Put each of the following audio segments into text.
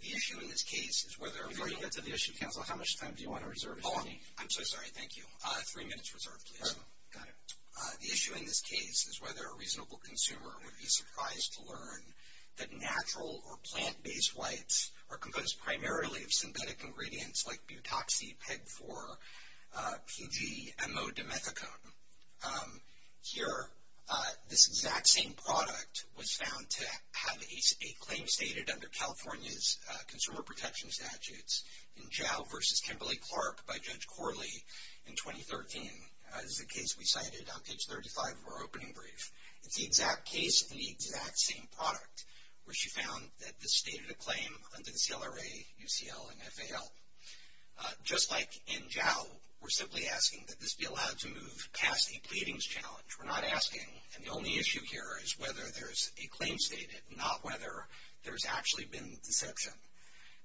The issue in this case is whether a reasonable consumer would be surprised by the fact that that natural or plant-based whites are composed primarily of synthetic ingredients like butoxy peg-4, PG, M.O. dimethicone. Here, this exact same product was found to have a claim stated under California's consumer protection statutes in Jow v. Kimberly Clark by Judge Corley in 2013. This is a case we cited on page 35 of our opening brief. It's the exact case and the exact same product where she found that this stated a claim under the CLRA, UCL, and FAL. Just like in Jow, we're simply asking that this be allowed to move past a pleadings challenge. We're not asking, and the only issue here is whether there's a claim stated, not whether there's actually been deception.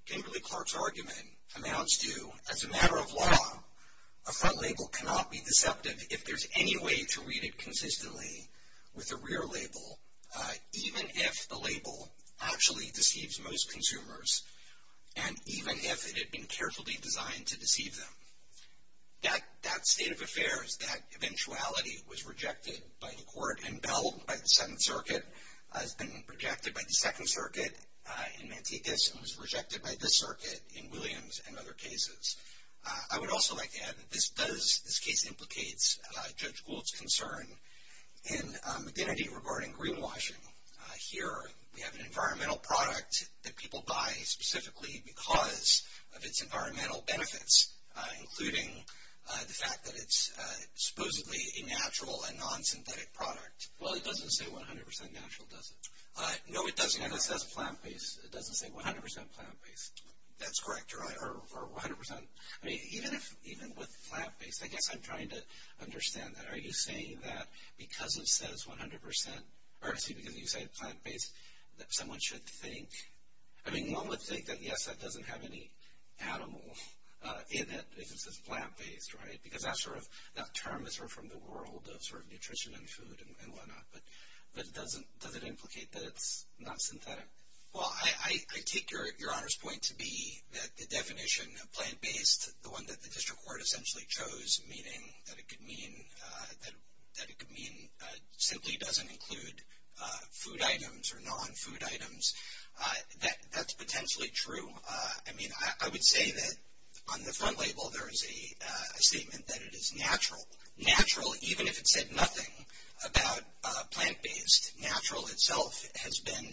Kimberly Clark's argument amounts to, as a matter of law, a front label cannot be deceptive if there's any way to read it consistently with a rear label, even if the label actually deceives most consumers and even if it had been carefully designed to deceive them. That state of affairs, that eventuality, was rejected by the court. And Bell, by the Seventh Circuit, has been rejected by the Second Circuit in Mantecas and was rejected by this circuit in Williams and other cases. I would also like to add that this case implicates Judge Gould's concern in identity regarding greenwashing. Here, we have an environmental product that people buy specifically because of its environmental benefits, including the fact that it's supposedly a natural and non-synthetic product. Well, it doesn't say 100% natural, does it? No, it doesn't. It says plant-based. It doesn't say 100% plant-based. That's correct, or 100%? I mean, even with plant-based, I guess I'm trying to understand that. Are you saying that because it says 100% or is it because you say plant-based that someone should think? I mean, one would think that, yes, that doesn't have any animal in it if it says plant-based, right? Because that term is sort of from the world of sort of nutrition and food and whatnot. But does it implicate that it's not synthetic? Well, I take Your Honor's point to be that the definition of plant-based, the one that the district court essentially chose, meaning that it could mean simply doesn't include food items or non-food items, that's potentially true. I mean, I would say that on the front label there is a statement that it is natural. Natural, even if it said nothing about plant-based. Natural itself has been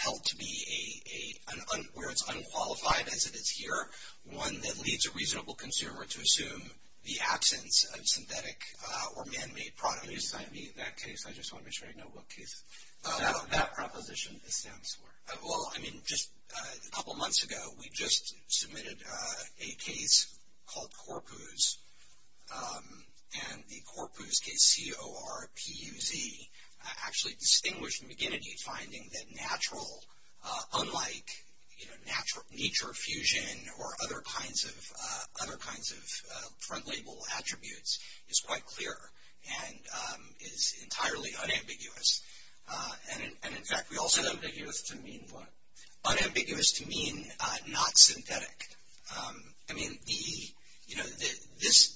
held to be a, where it's unqualified as it is here, one that leads a reasonable consumer to assume the absence of synthetic or man-made products. Can you assign me that case? I just want to make sure I know what case that proposition stands for. Well, I mean, just a couple months ago we just submitted a case called Corpus. And the Corpus case, C-O-R-P-U-Z, actually distinguished McGinnity finding that natural, unlike nature fusion or other kinds of front label attributes, is quite clear and is entirely unambiguous. And in fact, we also- Unambiguous to mean what? Unambiguous to mean not synthetic. I mean,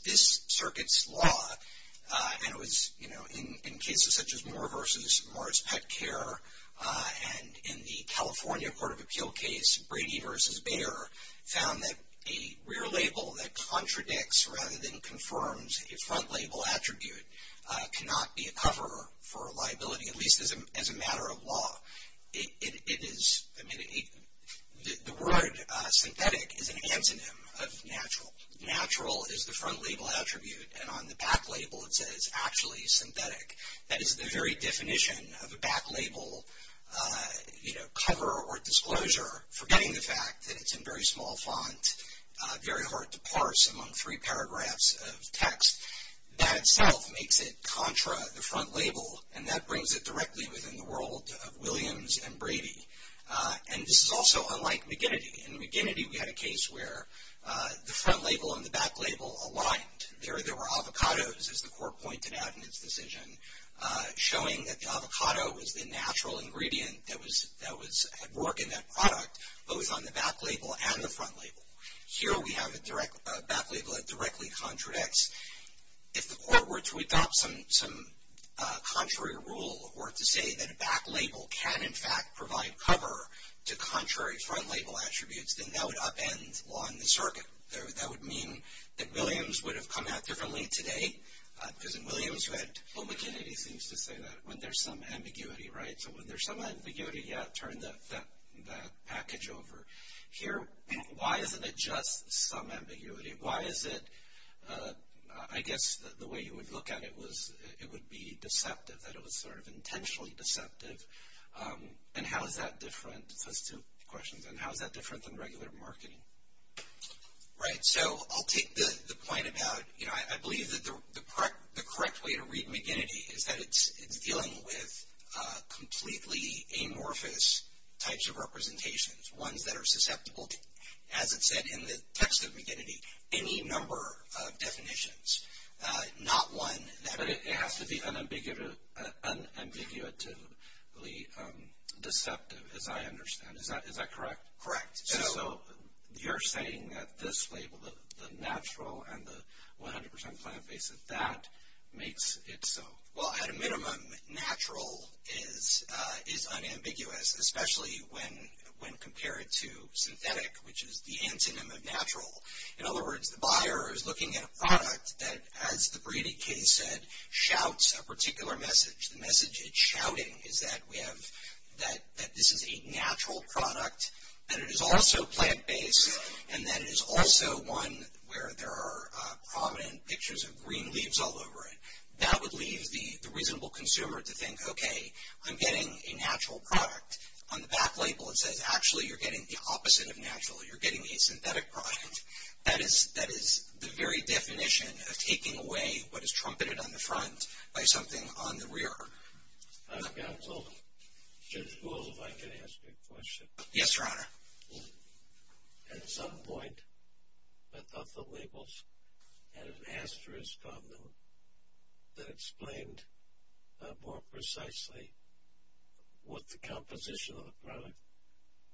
this circuit's law, and it was in cases such as Moore v. Morris Pet Care and in the California Court of Appeal case, Brady v. Bayer, found that a rear label that contradicts rather than confirms a front label attribute cannot be a cover for a liability, at least as a matter of law. It is, I mean, the word synthetic is an antonym of natural. Natural is the front label attribute, and on the back label it says actually synthetic. That is the very definition of a back label, you know, cover or disclosure, forgetting the fact that it's in very small font, very hard to parse among three paragraphs of text. That itself makes it contra the front label, and that brings it directly within the world of Williams and Brady. And this is also unlike McGinnity. In McGinnity we had a case where the front label and the back label aligned. There were avocados, as the court pointed out in its decision, showing that the avocado was the natural ingredient that had work in that product, both on the back label and the front label. Here we have a back label that directly contradicts. If the court were to adopt some contrary rule, or to say that a back label can in fact provide cover to contrary front label attributes, then that would upend law in the circuit. That would mean that Williams would have come out differently today, because in Williams you had, well, McGinnity seems to say that, when there's some ambiguity, right? So when there's some ambiguity, yeah, turn that package over. Here, why isn't it just some ambiguity? Why is it, I guess the way you would look at it was it would be deceptive, that it was sort of intentionally deceptive. And how is that different, those two questions, and how is that different than regular marketing? Right, so I'll take the point about, you know, I believe that the correct way to read McGinnity is that it's dealing with completely amorphous types of representations, ones that are susceptible to, as it said in the text of McGinnity, any number of definitions, not one that. But it has to be unambiguously deceptive, as I understand. Is that correct? Correct. So you're saying that this label, the natural and the 100% plant-based, that makes it so. Well, at a minimum, natural is unambiguous, especially when compared to synthetic, which is the antonym of natural. In other words, the buyer is looking at a product that, as the Brady case said, shouts a particular message. The message it's shouting is that we have, that this is a natural product, that it is also plant-based, and that it is also one where there are prominent pictures of green leaves all over it. That would leave the reasonable consumer to think, okay, I'm getting a natural product on the back label. It says, actually, you're getting the opposite of natural. You're getting a synthetic product. That is the very definition of taking away what is trumpeted on the front by something on the rear. I've gotten told, Judge Gould, if I can ask you a question. Yes, Your Honor. At some point, I thought the labels had an asterisk on them that explained more precisely what the composition of the product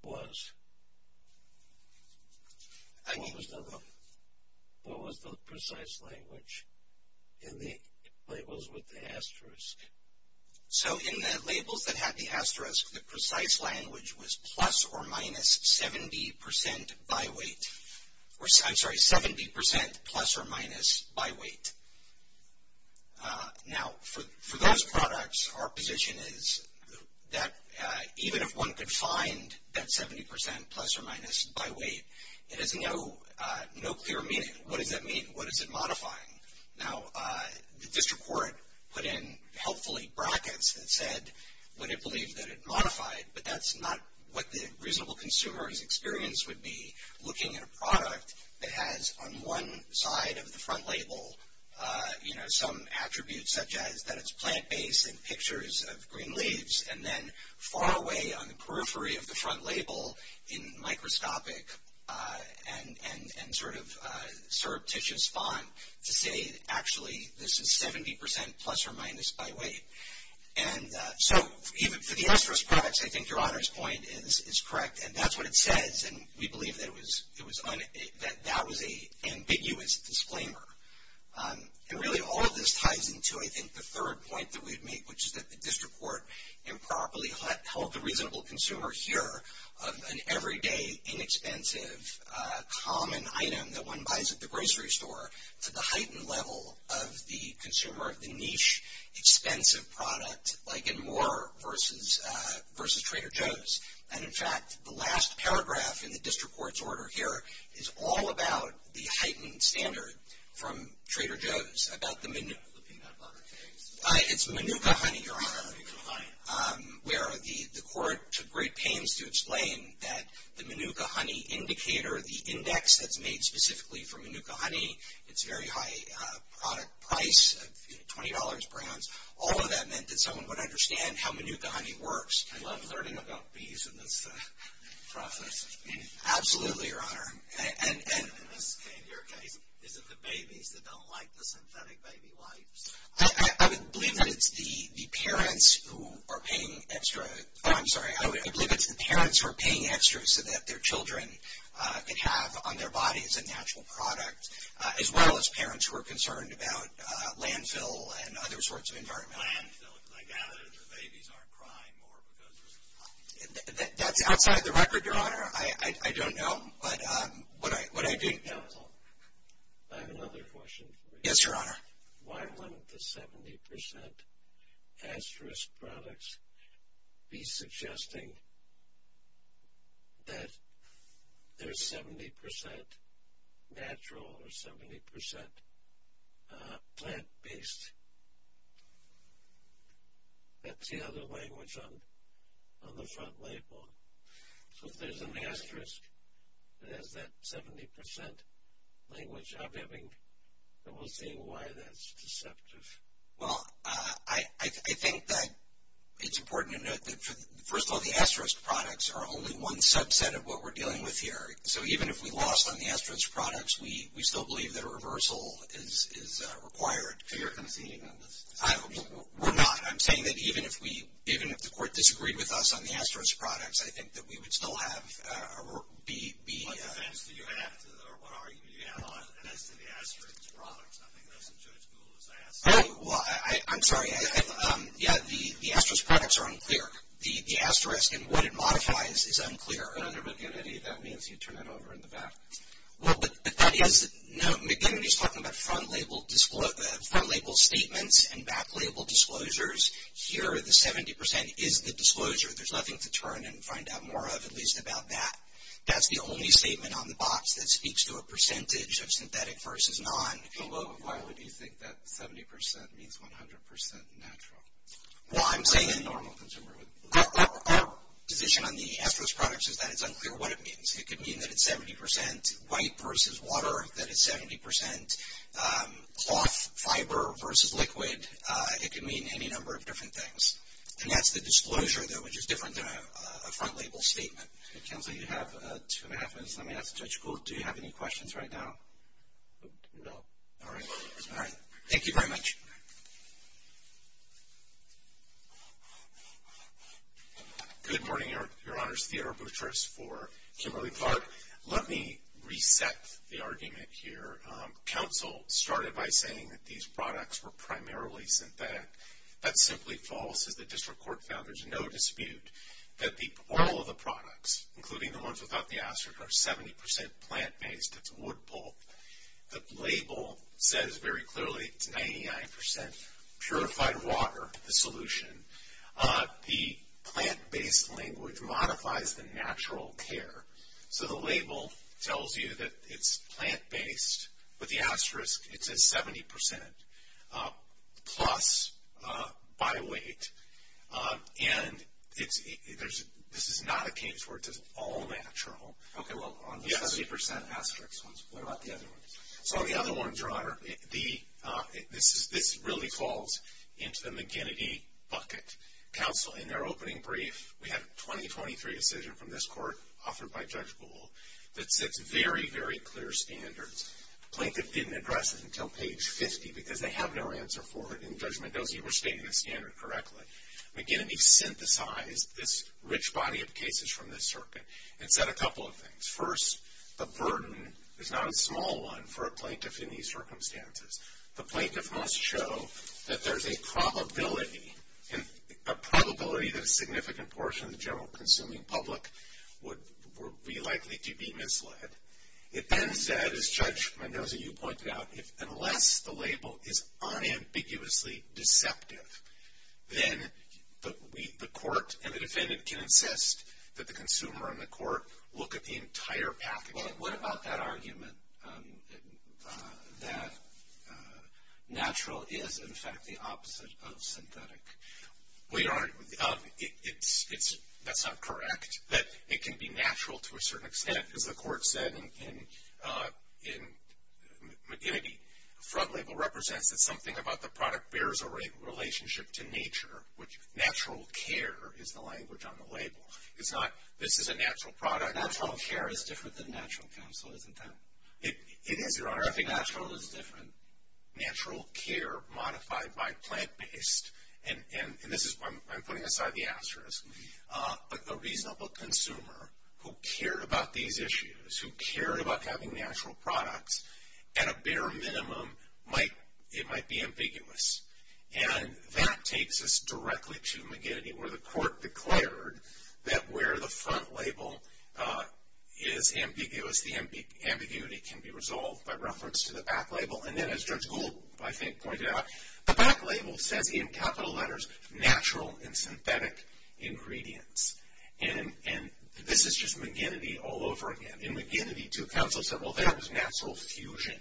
was. What was the precise language in the labels with the asterisk? So, in the labels that had the asterisk, the precise language was plus or minus 70% by weight. I'm sorry, 70% plus or minus by weight. Now, for those products, our position is that even if one could find that 70% plus or minus by weight, it has no clear meaning. What does that mean? What is it modifying? Now, the district court put in, helpfully, brackets that said what it believed that it modified, but that's not what the reasonable consumer's experience would be looking at a product that has, on one side of the front label, some attributes such as that it's plant-based and pictures of green leaves, and then far away on the periphery of the front label in microscopic and sort of surreptitious font to say, actually, this is 70% plus or minus by weight. So, even for the asterisk products, I think your honor's point is correct, and that's what it says, and we believe that that was an ambiguous disclaimer. And really, all of this ties into, I think, the third point that we'd make, which is that the district court improperly held the reasonable consumer here of an everyday, inexpensive, common item that one buys at the grocery store to the heightened level of the consumer, the niche, expensive product like in Moore versus Trader Joe's. And, in fact, the last paragraph in the district court's order here is all about the heightened standard from Trader Joe's. It's Manuka honey, your honor, where the court took great pains to explain that the Manuka honey indicator or the index that's made specifically for Manuka honey, it's very high product price, $20 brands, all of that meant that someone would understand how Manuka honey works. I loved learning about bees in this process. Absolutely, your honor. And in your case, is it the babies that don't like the synthetic baby wipes? I would believe that it's the parents who are paying extra. Oh, I'm sorry. I would believe it's the parents who are paying extra so that their children can have on their bodies a natural product, as well as parents who are concerned about landfill and other sorts of environmental problems. Landfill, because I gather the babies aren't crying more because there's less honey. That's outside the record, your honor. I don't know. But what I do know is I have another question for you. Yes, your honor. Why wouldn't the 70% asterisk products be suggesting that there's 70% natural or 70% plant-based? That's the other language on the front label. So if there's an asterisk that has that 70% language, I'm having trouble seeing why that's deceptive. Well, I think that it's important to note that, first of all, the asterisk products are only one subset of what we're dealing with here. So even if we lost on the asterisk products, we still believe that a reversal is required. So you're conceding on this? We're not. I'm saying that even if the court disagreed with us on the asterisk products, I think that we would still have our work be... What defense do you have or what argument do you have as to the asterisk products? I think that's as good a rule as I ask. Oh, well, I'm sorry. Yeah, the asterisk products are unclear. The asterisk and what it modifies is unclear. Your honor, McGinnity, that means you turn that over in the back. Well, McGinnity's talking about front label statements and back label disclosures. Here, the 70% is the disclosure. There's nothing to turn and find out more of, at least about that. That's the only statement on the box that speaks to a percentage of synthetic versus non... Well, why would you think that 70% means 100% natural? Well, I'm saying... A normal consumer would... Our position on the asterisk products is that it's unclear what it means. It could mean that it's 70% white versus water, that it's 70% cloth fiber versus liquid. It could mean any number of different things. And that's the disclosure, though, which is different than a front label statement. Counsel, you have two and a half minutes. Let me ask Judge Gould, do you have any questions right now? No. All right. All right. Thank you very much. Thank you. Good morning, Your Honors. Theodore Boutrous for Kimberly-Clark. Let me reset the argument here. Counsel started by saying that these products were primarily synthetic. That's simply false, as the district court found. There's no dispute that all of the products, including the ones without the asterisk, are 70% plant-based. It's wood pulp. The label says very clearly it's 99% purified water, the solution. The plant-based language modifies the natural care. So the label tells you that it's plant-based, but the asterisk, it says 70%, plus by weight. And this is not a case where it's all natural. Okay, well, on the 70% asterisk ones, what about the other ones? So on the other ones, Your Honor, this really falls into the McGinnity bucket. Counsel, in their opening brief, we had a 2023 decision from this court, authored by Judge Gould, that sets very, very clear standards. Plaintiff didn't address it until page 50 because they have no answer for it in judgment. Those of you who are stating the standard correctly, McGinnity synthesized this rich body of cases from this circuit and said a couple of things. First, the burden is not a small one for a plaintiff in these circumstances. The plaintiff must show that there's a probability, a probability that a significant portion of the general consuming public would be likely to be misled. It then said, as Judge Mendoza, you pointed out, unless the label is unambiguously deceptive, then the court and the defendant can insist that the consumer and the court look at the entire package. What about that argument that natural is, in fact, the opposite of synthetic? Well, Your Honor, that's not correct. It can be natural to a certain extent. As the court said in McGinnity, the front label represents that something about the product bears a relationship to nature, which natural care is the language on the label. It's not, this is a natural product. Natural care is different than natural counsel, isn't that? It is, Your Honor. I think natural is different. Natural care modified by plant-based, and this is, I'm putting aside the asterisk, a reasonable consumer who cared about these issues, who cared about having natural products, at a bare minimum, it might be ambiguous. And that takes us directly to McGinnity, where the court declared that where the front label is ambiguous, the ambiguity can be resolved by reference to the back label. And then, as Judge Gould, I think, pointed out, the back label says in capital letters natural and synthetic ingredients. And this is just McGinnity all over again. In McGinnity, too, counsel said, well, that was natural fusion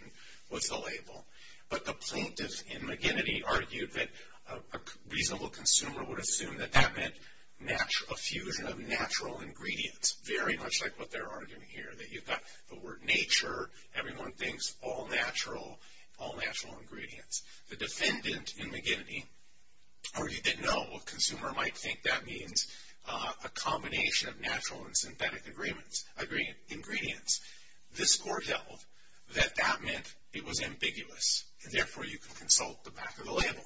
was the label. But the plaintiff in McGinnity argued that a reasonable consumer would assume that that meant a fusion of natural ingredients, very much like what they're arguing here, that you've got the word nature, everyone thinks all natural, all natural ingredients. The defendant in McGinnity argued that no, a consumer might think that means a combination of natural and synthetic ingredients. This court held that that meant it was ambiguous, and therefore you can consult the back of the label.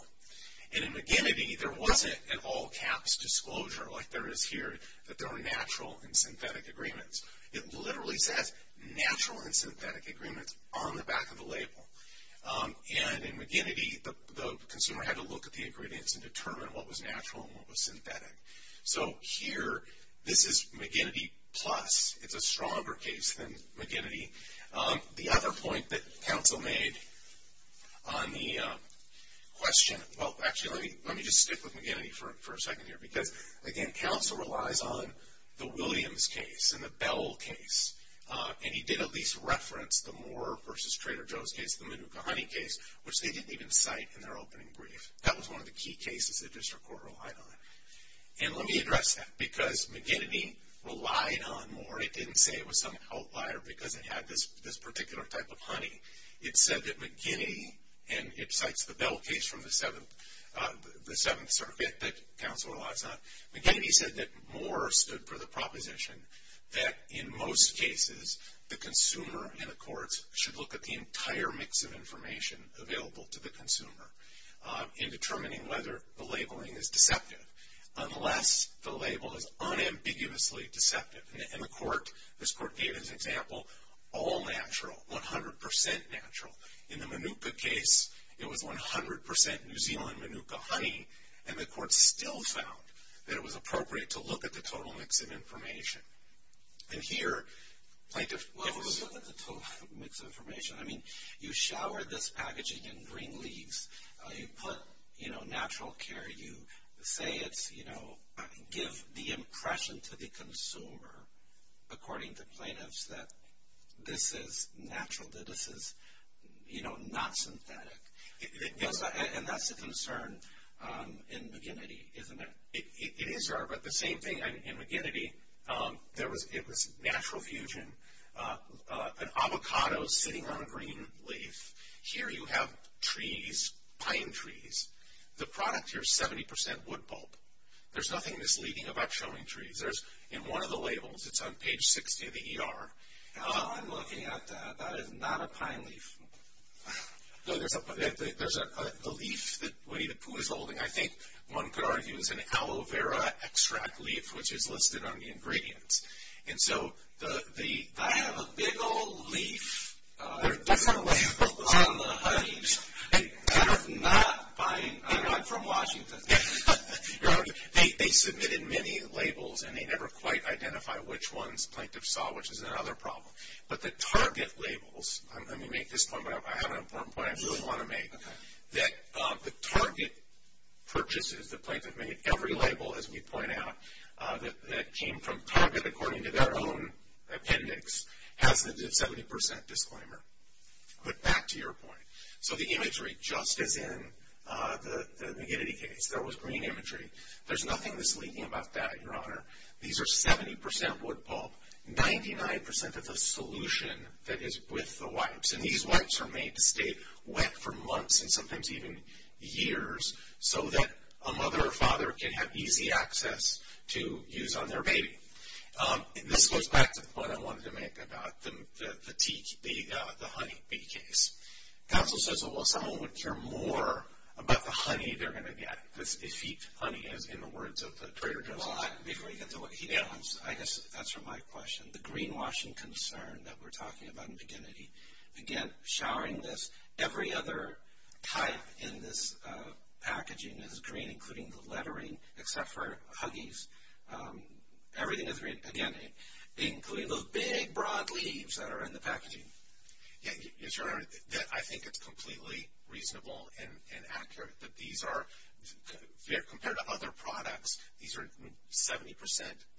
And in McGinnity, there wasn't an all-caps disclosure, like there is here, that there were natural and synthetic agreements. It literally says natural and synthetic agreements on the back of the label. And in McGinnity, the consumer had to look at the ingredients and determine what was natural and what was synthetic. So here, this is McGinnity plus. It's a stronger case than McGinnity. The other point that counsel made on the question, well, actually, let me just stick with McGinnity for a second here, because, again, counsel relies on the Williams case and the Bell case. And he did at least reference the Moore versus Trader Joe's case, the Manuka honey case, which they didn't even cite in their opening brief. That was one of the key cases the district court relied on. And let me address that, because McGinnity relied on Moore. It didn't say it was some outlier because it had this particular type of honey. It said that McGinnity, and it cites the Bell case from the Seventh Circuit that counsel relies on. McGinnity said that Moore stood for the proposition that, in most cases, the consumer and the courts should look at the entire mix of information available to the consumer in determining whether the labeling is deceptive, unless the label is unambiguously deceptive. And the court, this court gave as an example, all natural, 100% natural. In the Manuka case, it was 100% New Zealand Manuka honey. And the court still found that it was appropriate to look at the total mix of information. And here, plaintiff gives. Well, it was a total mix of information. I mean, you shower this packaging in green leaves. You put, you know, natural care. You say it's, you know, give the impression to the consumer, according to plaintiffs, that this is natural, that this is, you know, not synthetic. And that's a concern in McGinnity, isn't it? It is there, but the same thing in McGinnity. It was natural fusion, an avocado sitting on a green leaf. Here you have trees, pine trees. The product here is 70% wood pulp. There's nothing misleading about showing trees. In one of the labels, it's on page 60 of the ER, I'm looking at that. That is not a pine leaf. No, there's a leaf that Winnie the Pooh is holding, I think one could argue, is an aloe vera extract leaf, which is listed on the ingredients. And so, the... I have a big old leaf. There are different labels on the honey. You're not buying honey. I'm from Washington. They submitted many labels, and they never quite identify which ones plaintiffs saw, which is another problem. But the target labels, I'm going to make this point, but I have an important point I really want to make, that the target purchases, the plaintiff made every label, as we point out, that came from Target according to their own appendix, has the 70% disclaimer. But back to your point. So, the imagery, just as in the McGinnity case, there was green imagery. There's nothing misleading about that, Your Honor. These are 70% wood pulp. 99% of the solution that is with the wipes, and these wipes are made to stay wet for months and sometimes even years, so that a mother or father can have easy access to use on their baby. And this goes back to the point I wanted to make about the honey bee case. Counsel says, well, someone would care more about the honey they're going to get. Honey is, in the words of the Trader Joe's. I guess that's from my question. The greenwashing concern that we're talking about in McGinnity. Again, showering this, every other type in this packaging is green, including the lettering, except for huggies. Everything is green, again, including those big, broad leaves that are in the packaging. Yes, Your Honor, I think it's completely reasonable and accurate that these are, compared to other products, these are 70%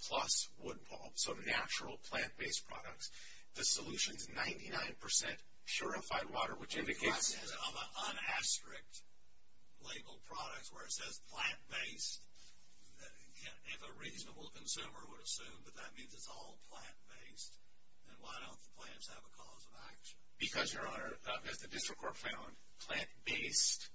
plus wood pulp. So, natural plant-based products. The solution is 99% purified water, which indicates. On the asterisk labeled products where it says plant-based, if a reasonable consumer would assume that that means it's all plant-based, then why don't the plants have a cause of action? Because, Your Honor, as the district court found, plant-based,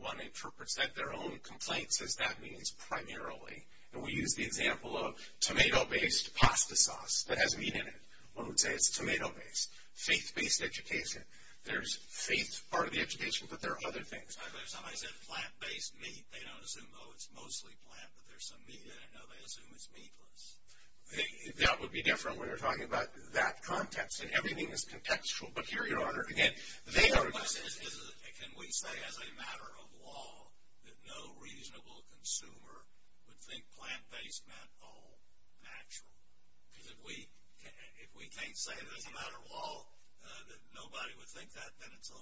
one interprets that their own complaints as that means primarily. And we use the example of tomato-based pasta sauce that has meat in it. One would say it's tomato-based. Faith-based education. There's faith part of the education, but there are other things. Somebody said plant-based meat. They don't assume, oh, it's mostly plant, but there's some meat in it. No, they assume it's meatless. That would be different when you're talking about that context. And everything is contextual. But here, Your Honor, again, they are. Can we say as a matter of law that no reasonable consumer would think plant-based meant all natural? Because if we can't say as a matter of law that nobody would think that, then it's a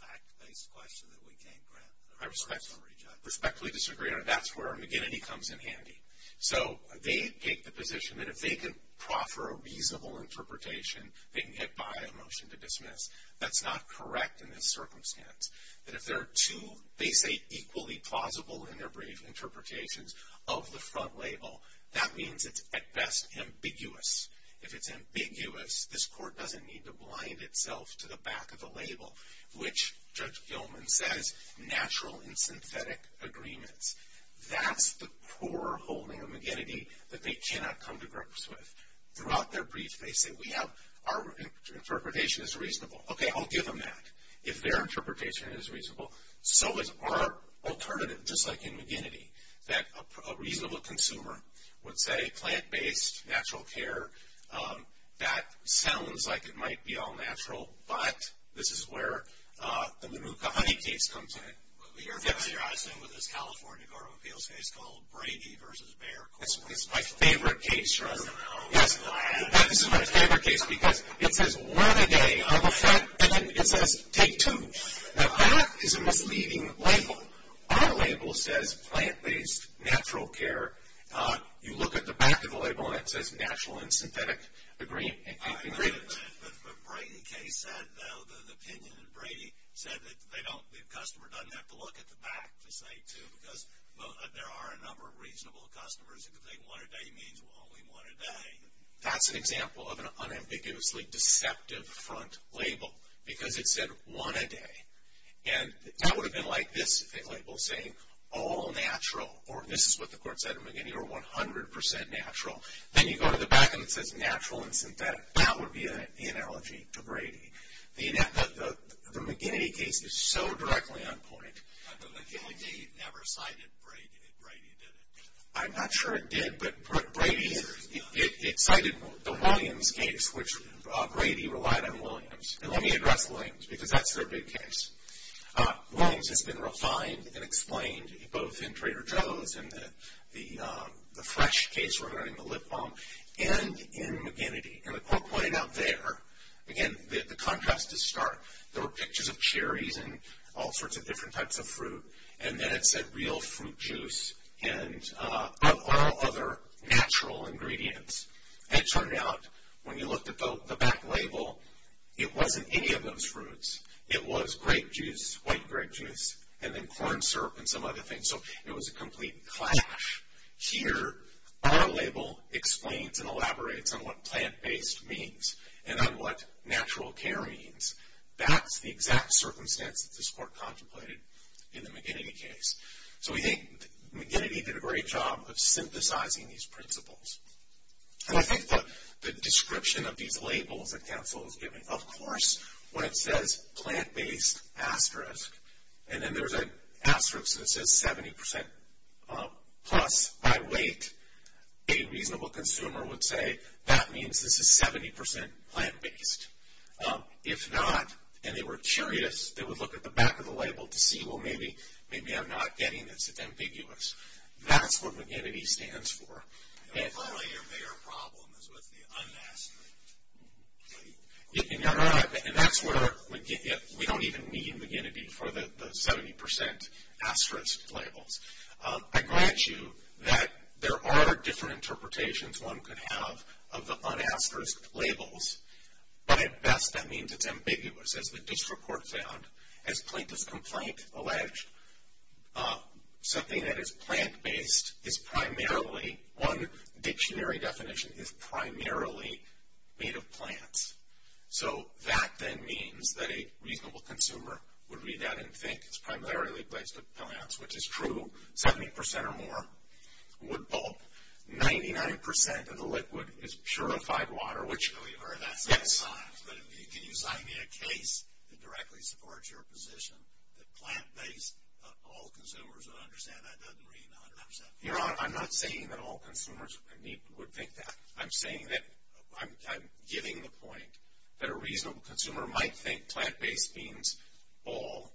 fact-based question that we can't grant. I respectfully disagree, Your Honor. That's where McGinnity comes in handy. So they take the position that if they can proffer a reasonable interpretation, they can get by a motion to dismiss. That's not correct in this circumstance. That if there are two, they say, equally plausible in their brief interpretations of the front label, that means it's at best ambiguous. If it's ambiguous, this court doesn't need to blind itself to the back of the label, which Judge Gilman says natural in synthetic agreements. That's the core holding of McGinnity that they cannot come to grips with. Throughout their brief, they say our interpretation is reasonable. Okay, I'll give them that. If their interpretation is reasonable, so is our alternative, just like in McGinnity, that a reasonable consumer would say plant-based, natural care, that sounds like it might be all natural, but this is where the Manuka honey case comes in. Your Honor, I stand with this California Court of Appeals case called Brady v. Bayer. That's my favorite case, Your Honor. Yes, this is my favorite case because it says one a day on the front, and then it says take two. Now, that is a misleading label. Our label says plant-based, natural care. You look at the back of the label, and it says natural in synthetic agreements. The Brady case said, though, the opinion of Brady said that they don't, the customer doesn't have to look at the back to say two because there are a number of reasonable customers who think one a day means only one a day. That's an example of an unambiguously deceptive front label because it said one a day. And that would have been like this label saying all natural, or this is what the court said in McGinnity, or 100% natural. Then you go to the back, and it says natural in synthetic. That would be the analogy to Brady. The McGinnity case is so directly on point. The McGinnity never cited Brady. Brady did it. I'm not sure it did, but Brady, it cited the Williams case, which Brady relied on Williams. And let me address Williams because that's their big case. Williams has been refined and explained both in Trader Joe's and the Fresh case regarding the lip balm and in McGinnity. And the court pointed out there, again, the contrast is stark. There were pictures of cherries and all sorts of different types of fruit. And then it said real fruit juice and of all other natural ingredients. And it turned out when you looked at the back label, it wasn't any of those fruits. It was grape juice, white grape juice, and then corn syrup and some other things. And so it was a complete clash. Here, our label explains and elaborates on what plant-based means and on what natural care means. That's the exact circumstance that this court contemplated in the McGinnity case. So we think McGinnity did a great job of synthesizing these principles. And I think that the description of these labels that counsel has given, of course, when it says plant-based asterisk, and then there's an asterisk that says 70% plus by weight, a reasonable consumer would say that means this is 70% plant-based. If not, and they were curious, they would look at the back of the label to see, well, maybe I'm not getting this. It's ambiguous. That's what McGinnity stands for. And apparently your bigger problem is with the un-asterisk. And that's where we don't even need McGinnity for the 70% asterisk labels. I grant you that there are different interpretations one could have of the un-asterisk labels, but at best that means it's ambiguous, as the district court found, as plaintiff's complaint alleged. Something that is plant-based is primarily, one dictionary definition is primarily made of plants. So that then means that a reasonable consumer would read that and think it's primarily based on plants, which is true. 70% or more, wood pulp. 99% of the liquid is purified water, which, yes. Can you sign me a case that directly supports your position that plant-based, all consumers would understand that doesn't read 100% plant-based? Your Honor, I'm not saying that all consumers would think that. I'm saying that I'm giving the point that a reasonable consumer might think plant-based means all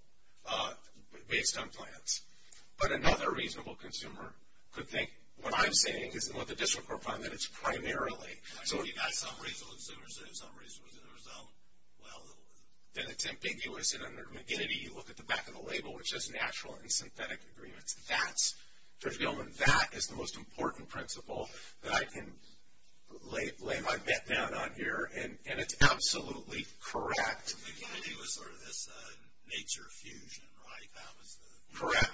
based on plants. But another reasonable consumer could think what I'm saying is, and what the district court found, that it's primarily. So you've got some reasonable consumer saying some reason it was in their zone. Well, then it's ambiguous. And under McGinnity, you look at the back of the label, which says natural and synthetic agreements. That's, Judge Gilman, that is the most important principle that I can lay my bet down on here. And it's absolutely correct. McGinnity was sort of this nature fusion, right? Correct.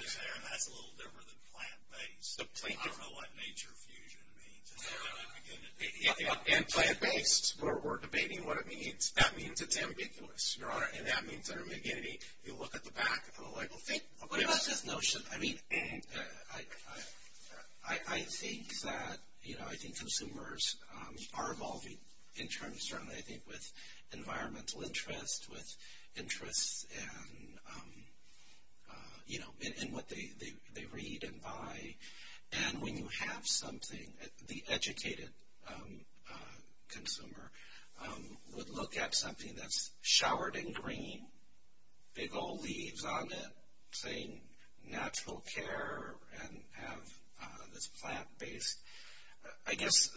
That's a little different than plant-based. The plaintiff. I don't know what nature fusion means. And plant-based. We're debating what it means. That means it's ambiguous, Your Honor. And that means under McGinnity, you look at the back of the label. What about this notion? I mean, I think that, you know, I think consumers are evolving in terms, certainly I think with environmental interest, with interest in, you know, in what they read and buy. And when you have something, the educated consumer would look at something that's showered in green, big old leaves on it, saying natural care and have this plant-based. I guess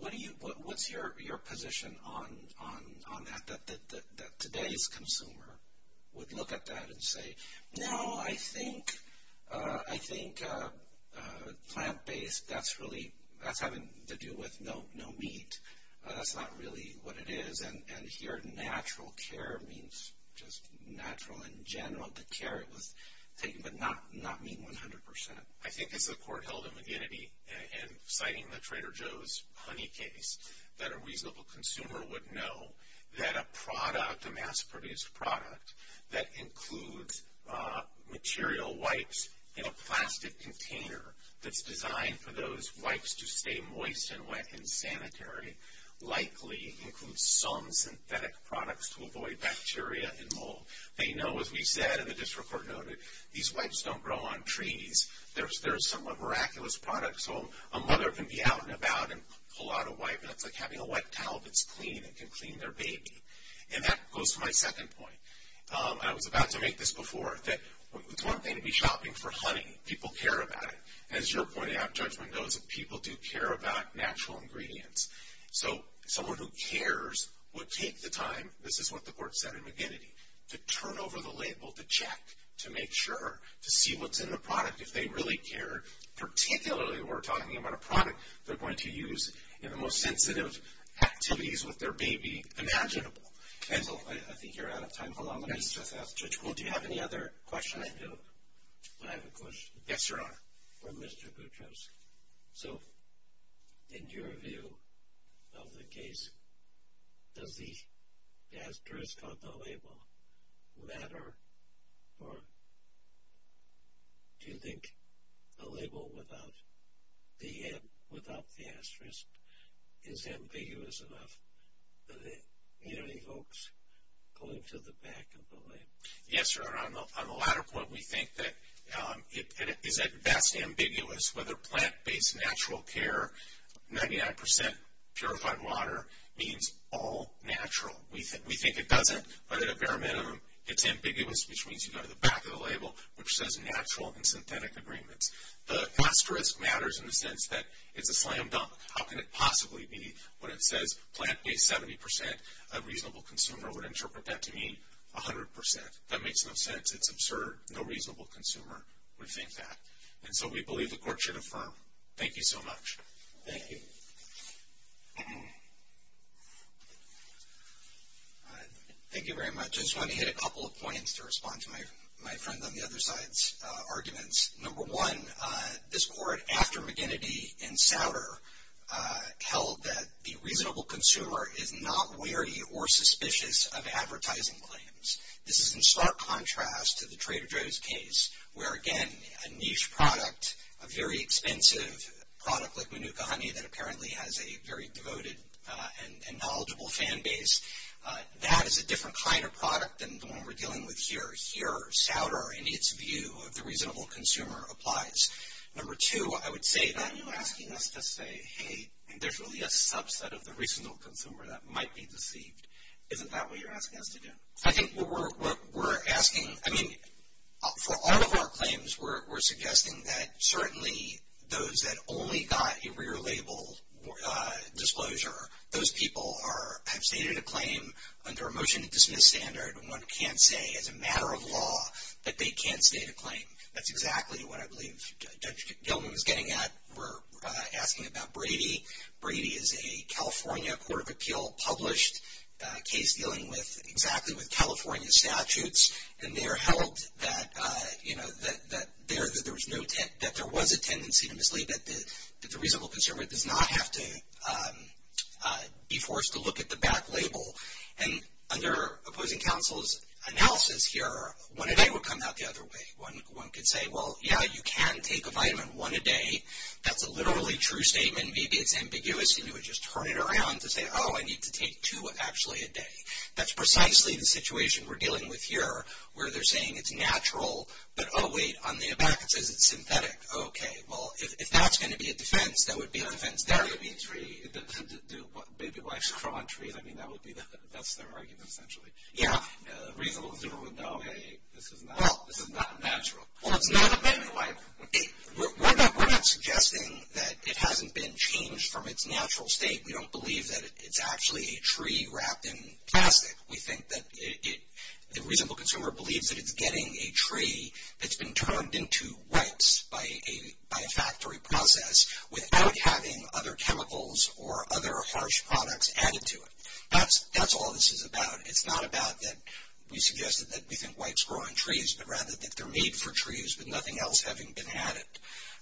what's your position on that, that today's consumer would look at that and say, No, I think plant-based, that's having to do with no meat. That's not really what it is. And here natural care means just natural in general. The care was taken, but not mean 100%. I think as the court held in McGinnity and citing the Trader Joe's honey case, that a reasonable consumer would know that a product, a mass-produced product, that includes material wipes in a plastic container that's designed for those wipes to stay moist and wet and sanitary likely includes some synthetic products to avoid bacteria and mold. They know, as we said and the district court noted, these wipes don't grow on trees. They're a somewhat miraculous product. So a mother can be out and about and pull out a wipe, and it's like having a wet towel that's clean and can clean their baby. And that goes to my second point. I was about to make this before, that it's one thing to be shopping for honey. People care about it. And as your point of judgment knows, people do care about natural ingredients. So someone who cares would take the time, this is what the court said in McGinnity, to turn over the label, to check, to make sure, to see what's in the product. If they really care, particularly if we're talking about a product they're going to use in the most sensitive activities with their baby imaginable. I think you're out of time. Hold on. Let me just ask the judge. Do you have any other question? I do. I have a question. Yes, Your Honor. For Mr. Gutroski. So in your view of the case, does the asterisk on the label matter, or do you think the label without the asterisk is ambiguous enough that it evokes going to the back of the label? Yes, Your Honor. On the latter point, we think that it is vastly ambiguous whether plant-based natural care, 99% purified water, means all natural. We think it doesn't, but at a bare minimum it's ambiguous, which means you go to the back of the label, which says natural and synthetic agreements. The asterisk matters in the sense that it's a slam dunk. How can it possibly be when it says plant-based 70%? A reasonable consumer would interpret that to mean 100%. That makes no sense. It's absurd. No reasonable consumer would think that. And so we believe the court should affirm. Thank you so much. Thank you. Thank you very much. I just want to hit a couple of points to respond to my friend on the other side's arguments. Number one, this court, after McGinnity and Sauter, held that the reasonable consumer is not wary or suspicious of advertising claims. This is in stark contrast to the Trader Joe's case where, again, a niche product, a very expensive product like Manuka honey that apparently has a very devoted and knowledgeable fan base, that is a different kind of product than the one we're dealing with here. Here, Sauter, in its view of the reasonable consumer, applies. Number two, I would say that you're asking us to say, hey, there's really a subset of the reasonable consumer that might be deceived. Isn't that what you're asking us to do? I think what we're asking, I mean, for all of our claims, we're suggesting that certainly those that only got a rear-labeled disclosure, those people have stated a claim under a motion to dismiss standard. One can't say as a matter of law that they can't state a claim. That's exactly what I believe Judge Gilman was getting at. We're asking about Brady. Brady is a California Court of Appeal published case dealing exactly with California statutes, and they're held that there was a tendency to mislead, that the reasonable consumer does not have to be forced to look at the back label. And under opposing counsel's analysis here, one a day would come out the other way. One could say, well, yeah, you can take a vitamin one a day. That's a literally true statement. Maybe it's ambiguous, and you would just turn it around to say, oh, I need to take two actually a day. That's precisely the situation we're dealing with here where they're saying it's natural, but, oh, wait, on the back it says it's synthetic. Okay, well, if that's going to be a defense, that would be a defense there. That would be a tree. Do baby wipes grow on trees? I mean, that's their argument essentially. Yeah. The reasonable consumer would know, hey, this is not natural. Well, it's not a baby wipe. We're not suggesting that it hasn't been changed from its natural state. We don't believe that it's actually a tree wrapped in plastic. We think that the reasonable consumer believes that it's getting a tree that's been turned into wipes by a factory process without having other chemicals or other harsh products added to it. That's all this is about. It's not about that we suggested that we think wipes grow on trees, but rather that they're made for trees with nothing else having been added.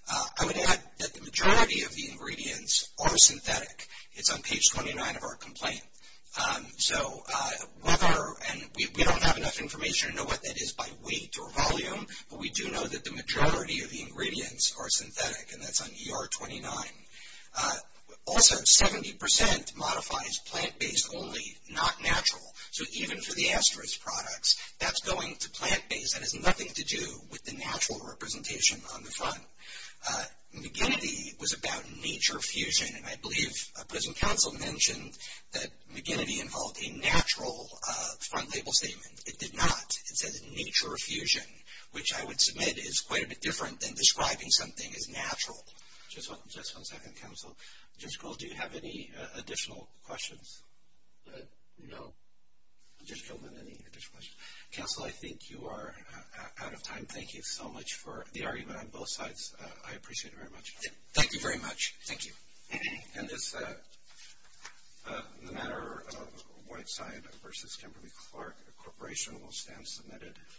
I would add that the majority of the ingredients are synthetic. It's on page 29 of our complaint. We don't have enough information to know what that is by weight or volume, but we do know that the majority of the ingredients are synthetic, and that's on ER 29. Also, 70% modifies plant-based only, not natural. So even for the asterisk products, that's going to plant-based. That has nothing to do with the natural representation on the front. McGinnity was about nature fusion, and I believe present counsel mentioned that McGinnity involved a natural front label statement. It did not. It says nature fusion, which I would submit is quite a bit different than describing something as natural. Just one second, counsel. Judge Kroll, do you have any additional questions? No. Judge Kroll, any additional questions? Counsel, I think you are out of time. Thank you so much for the argument on both sides. I appreciate it very much. Thank you very much. Thank you. And this matter of Whiteside v. Kimberly-Clark Corporation will stand submitted.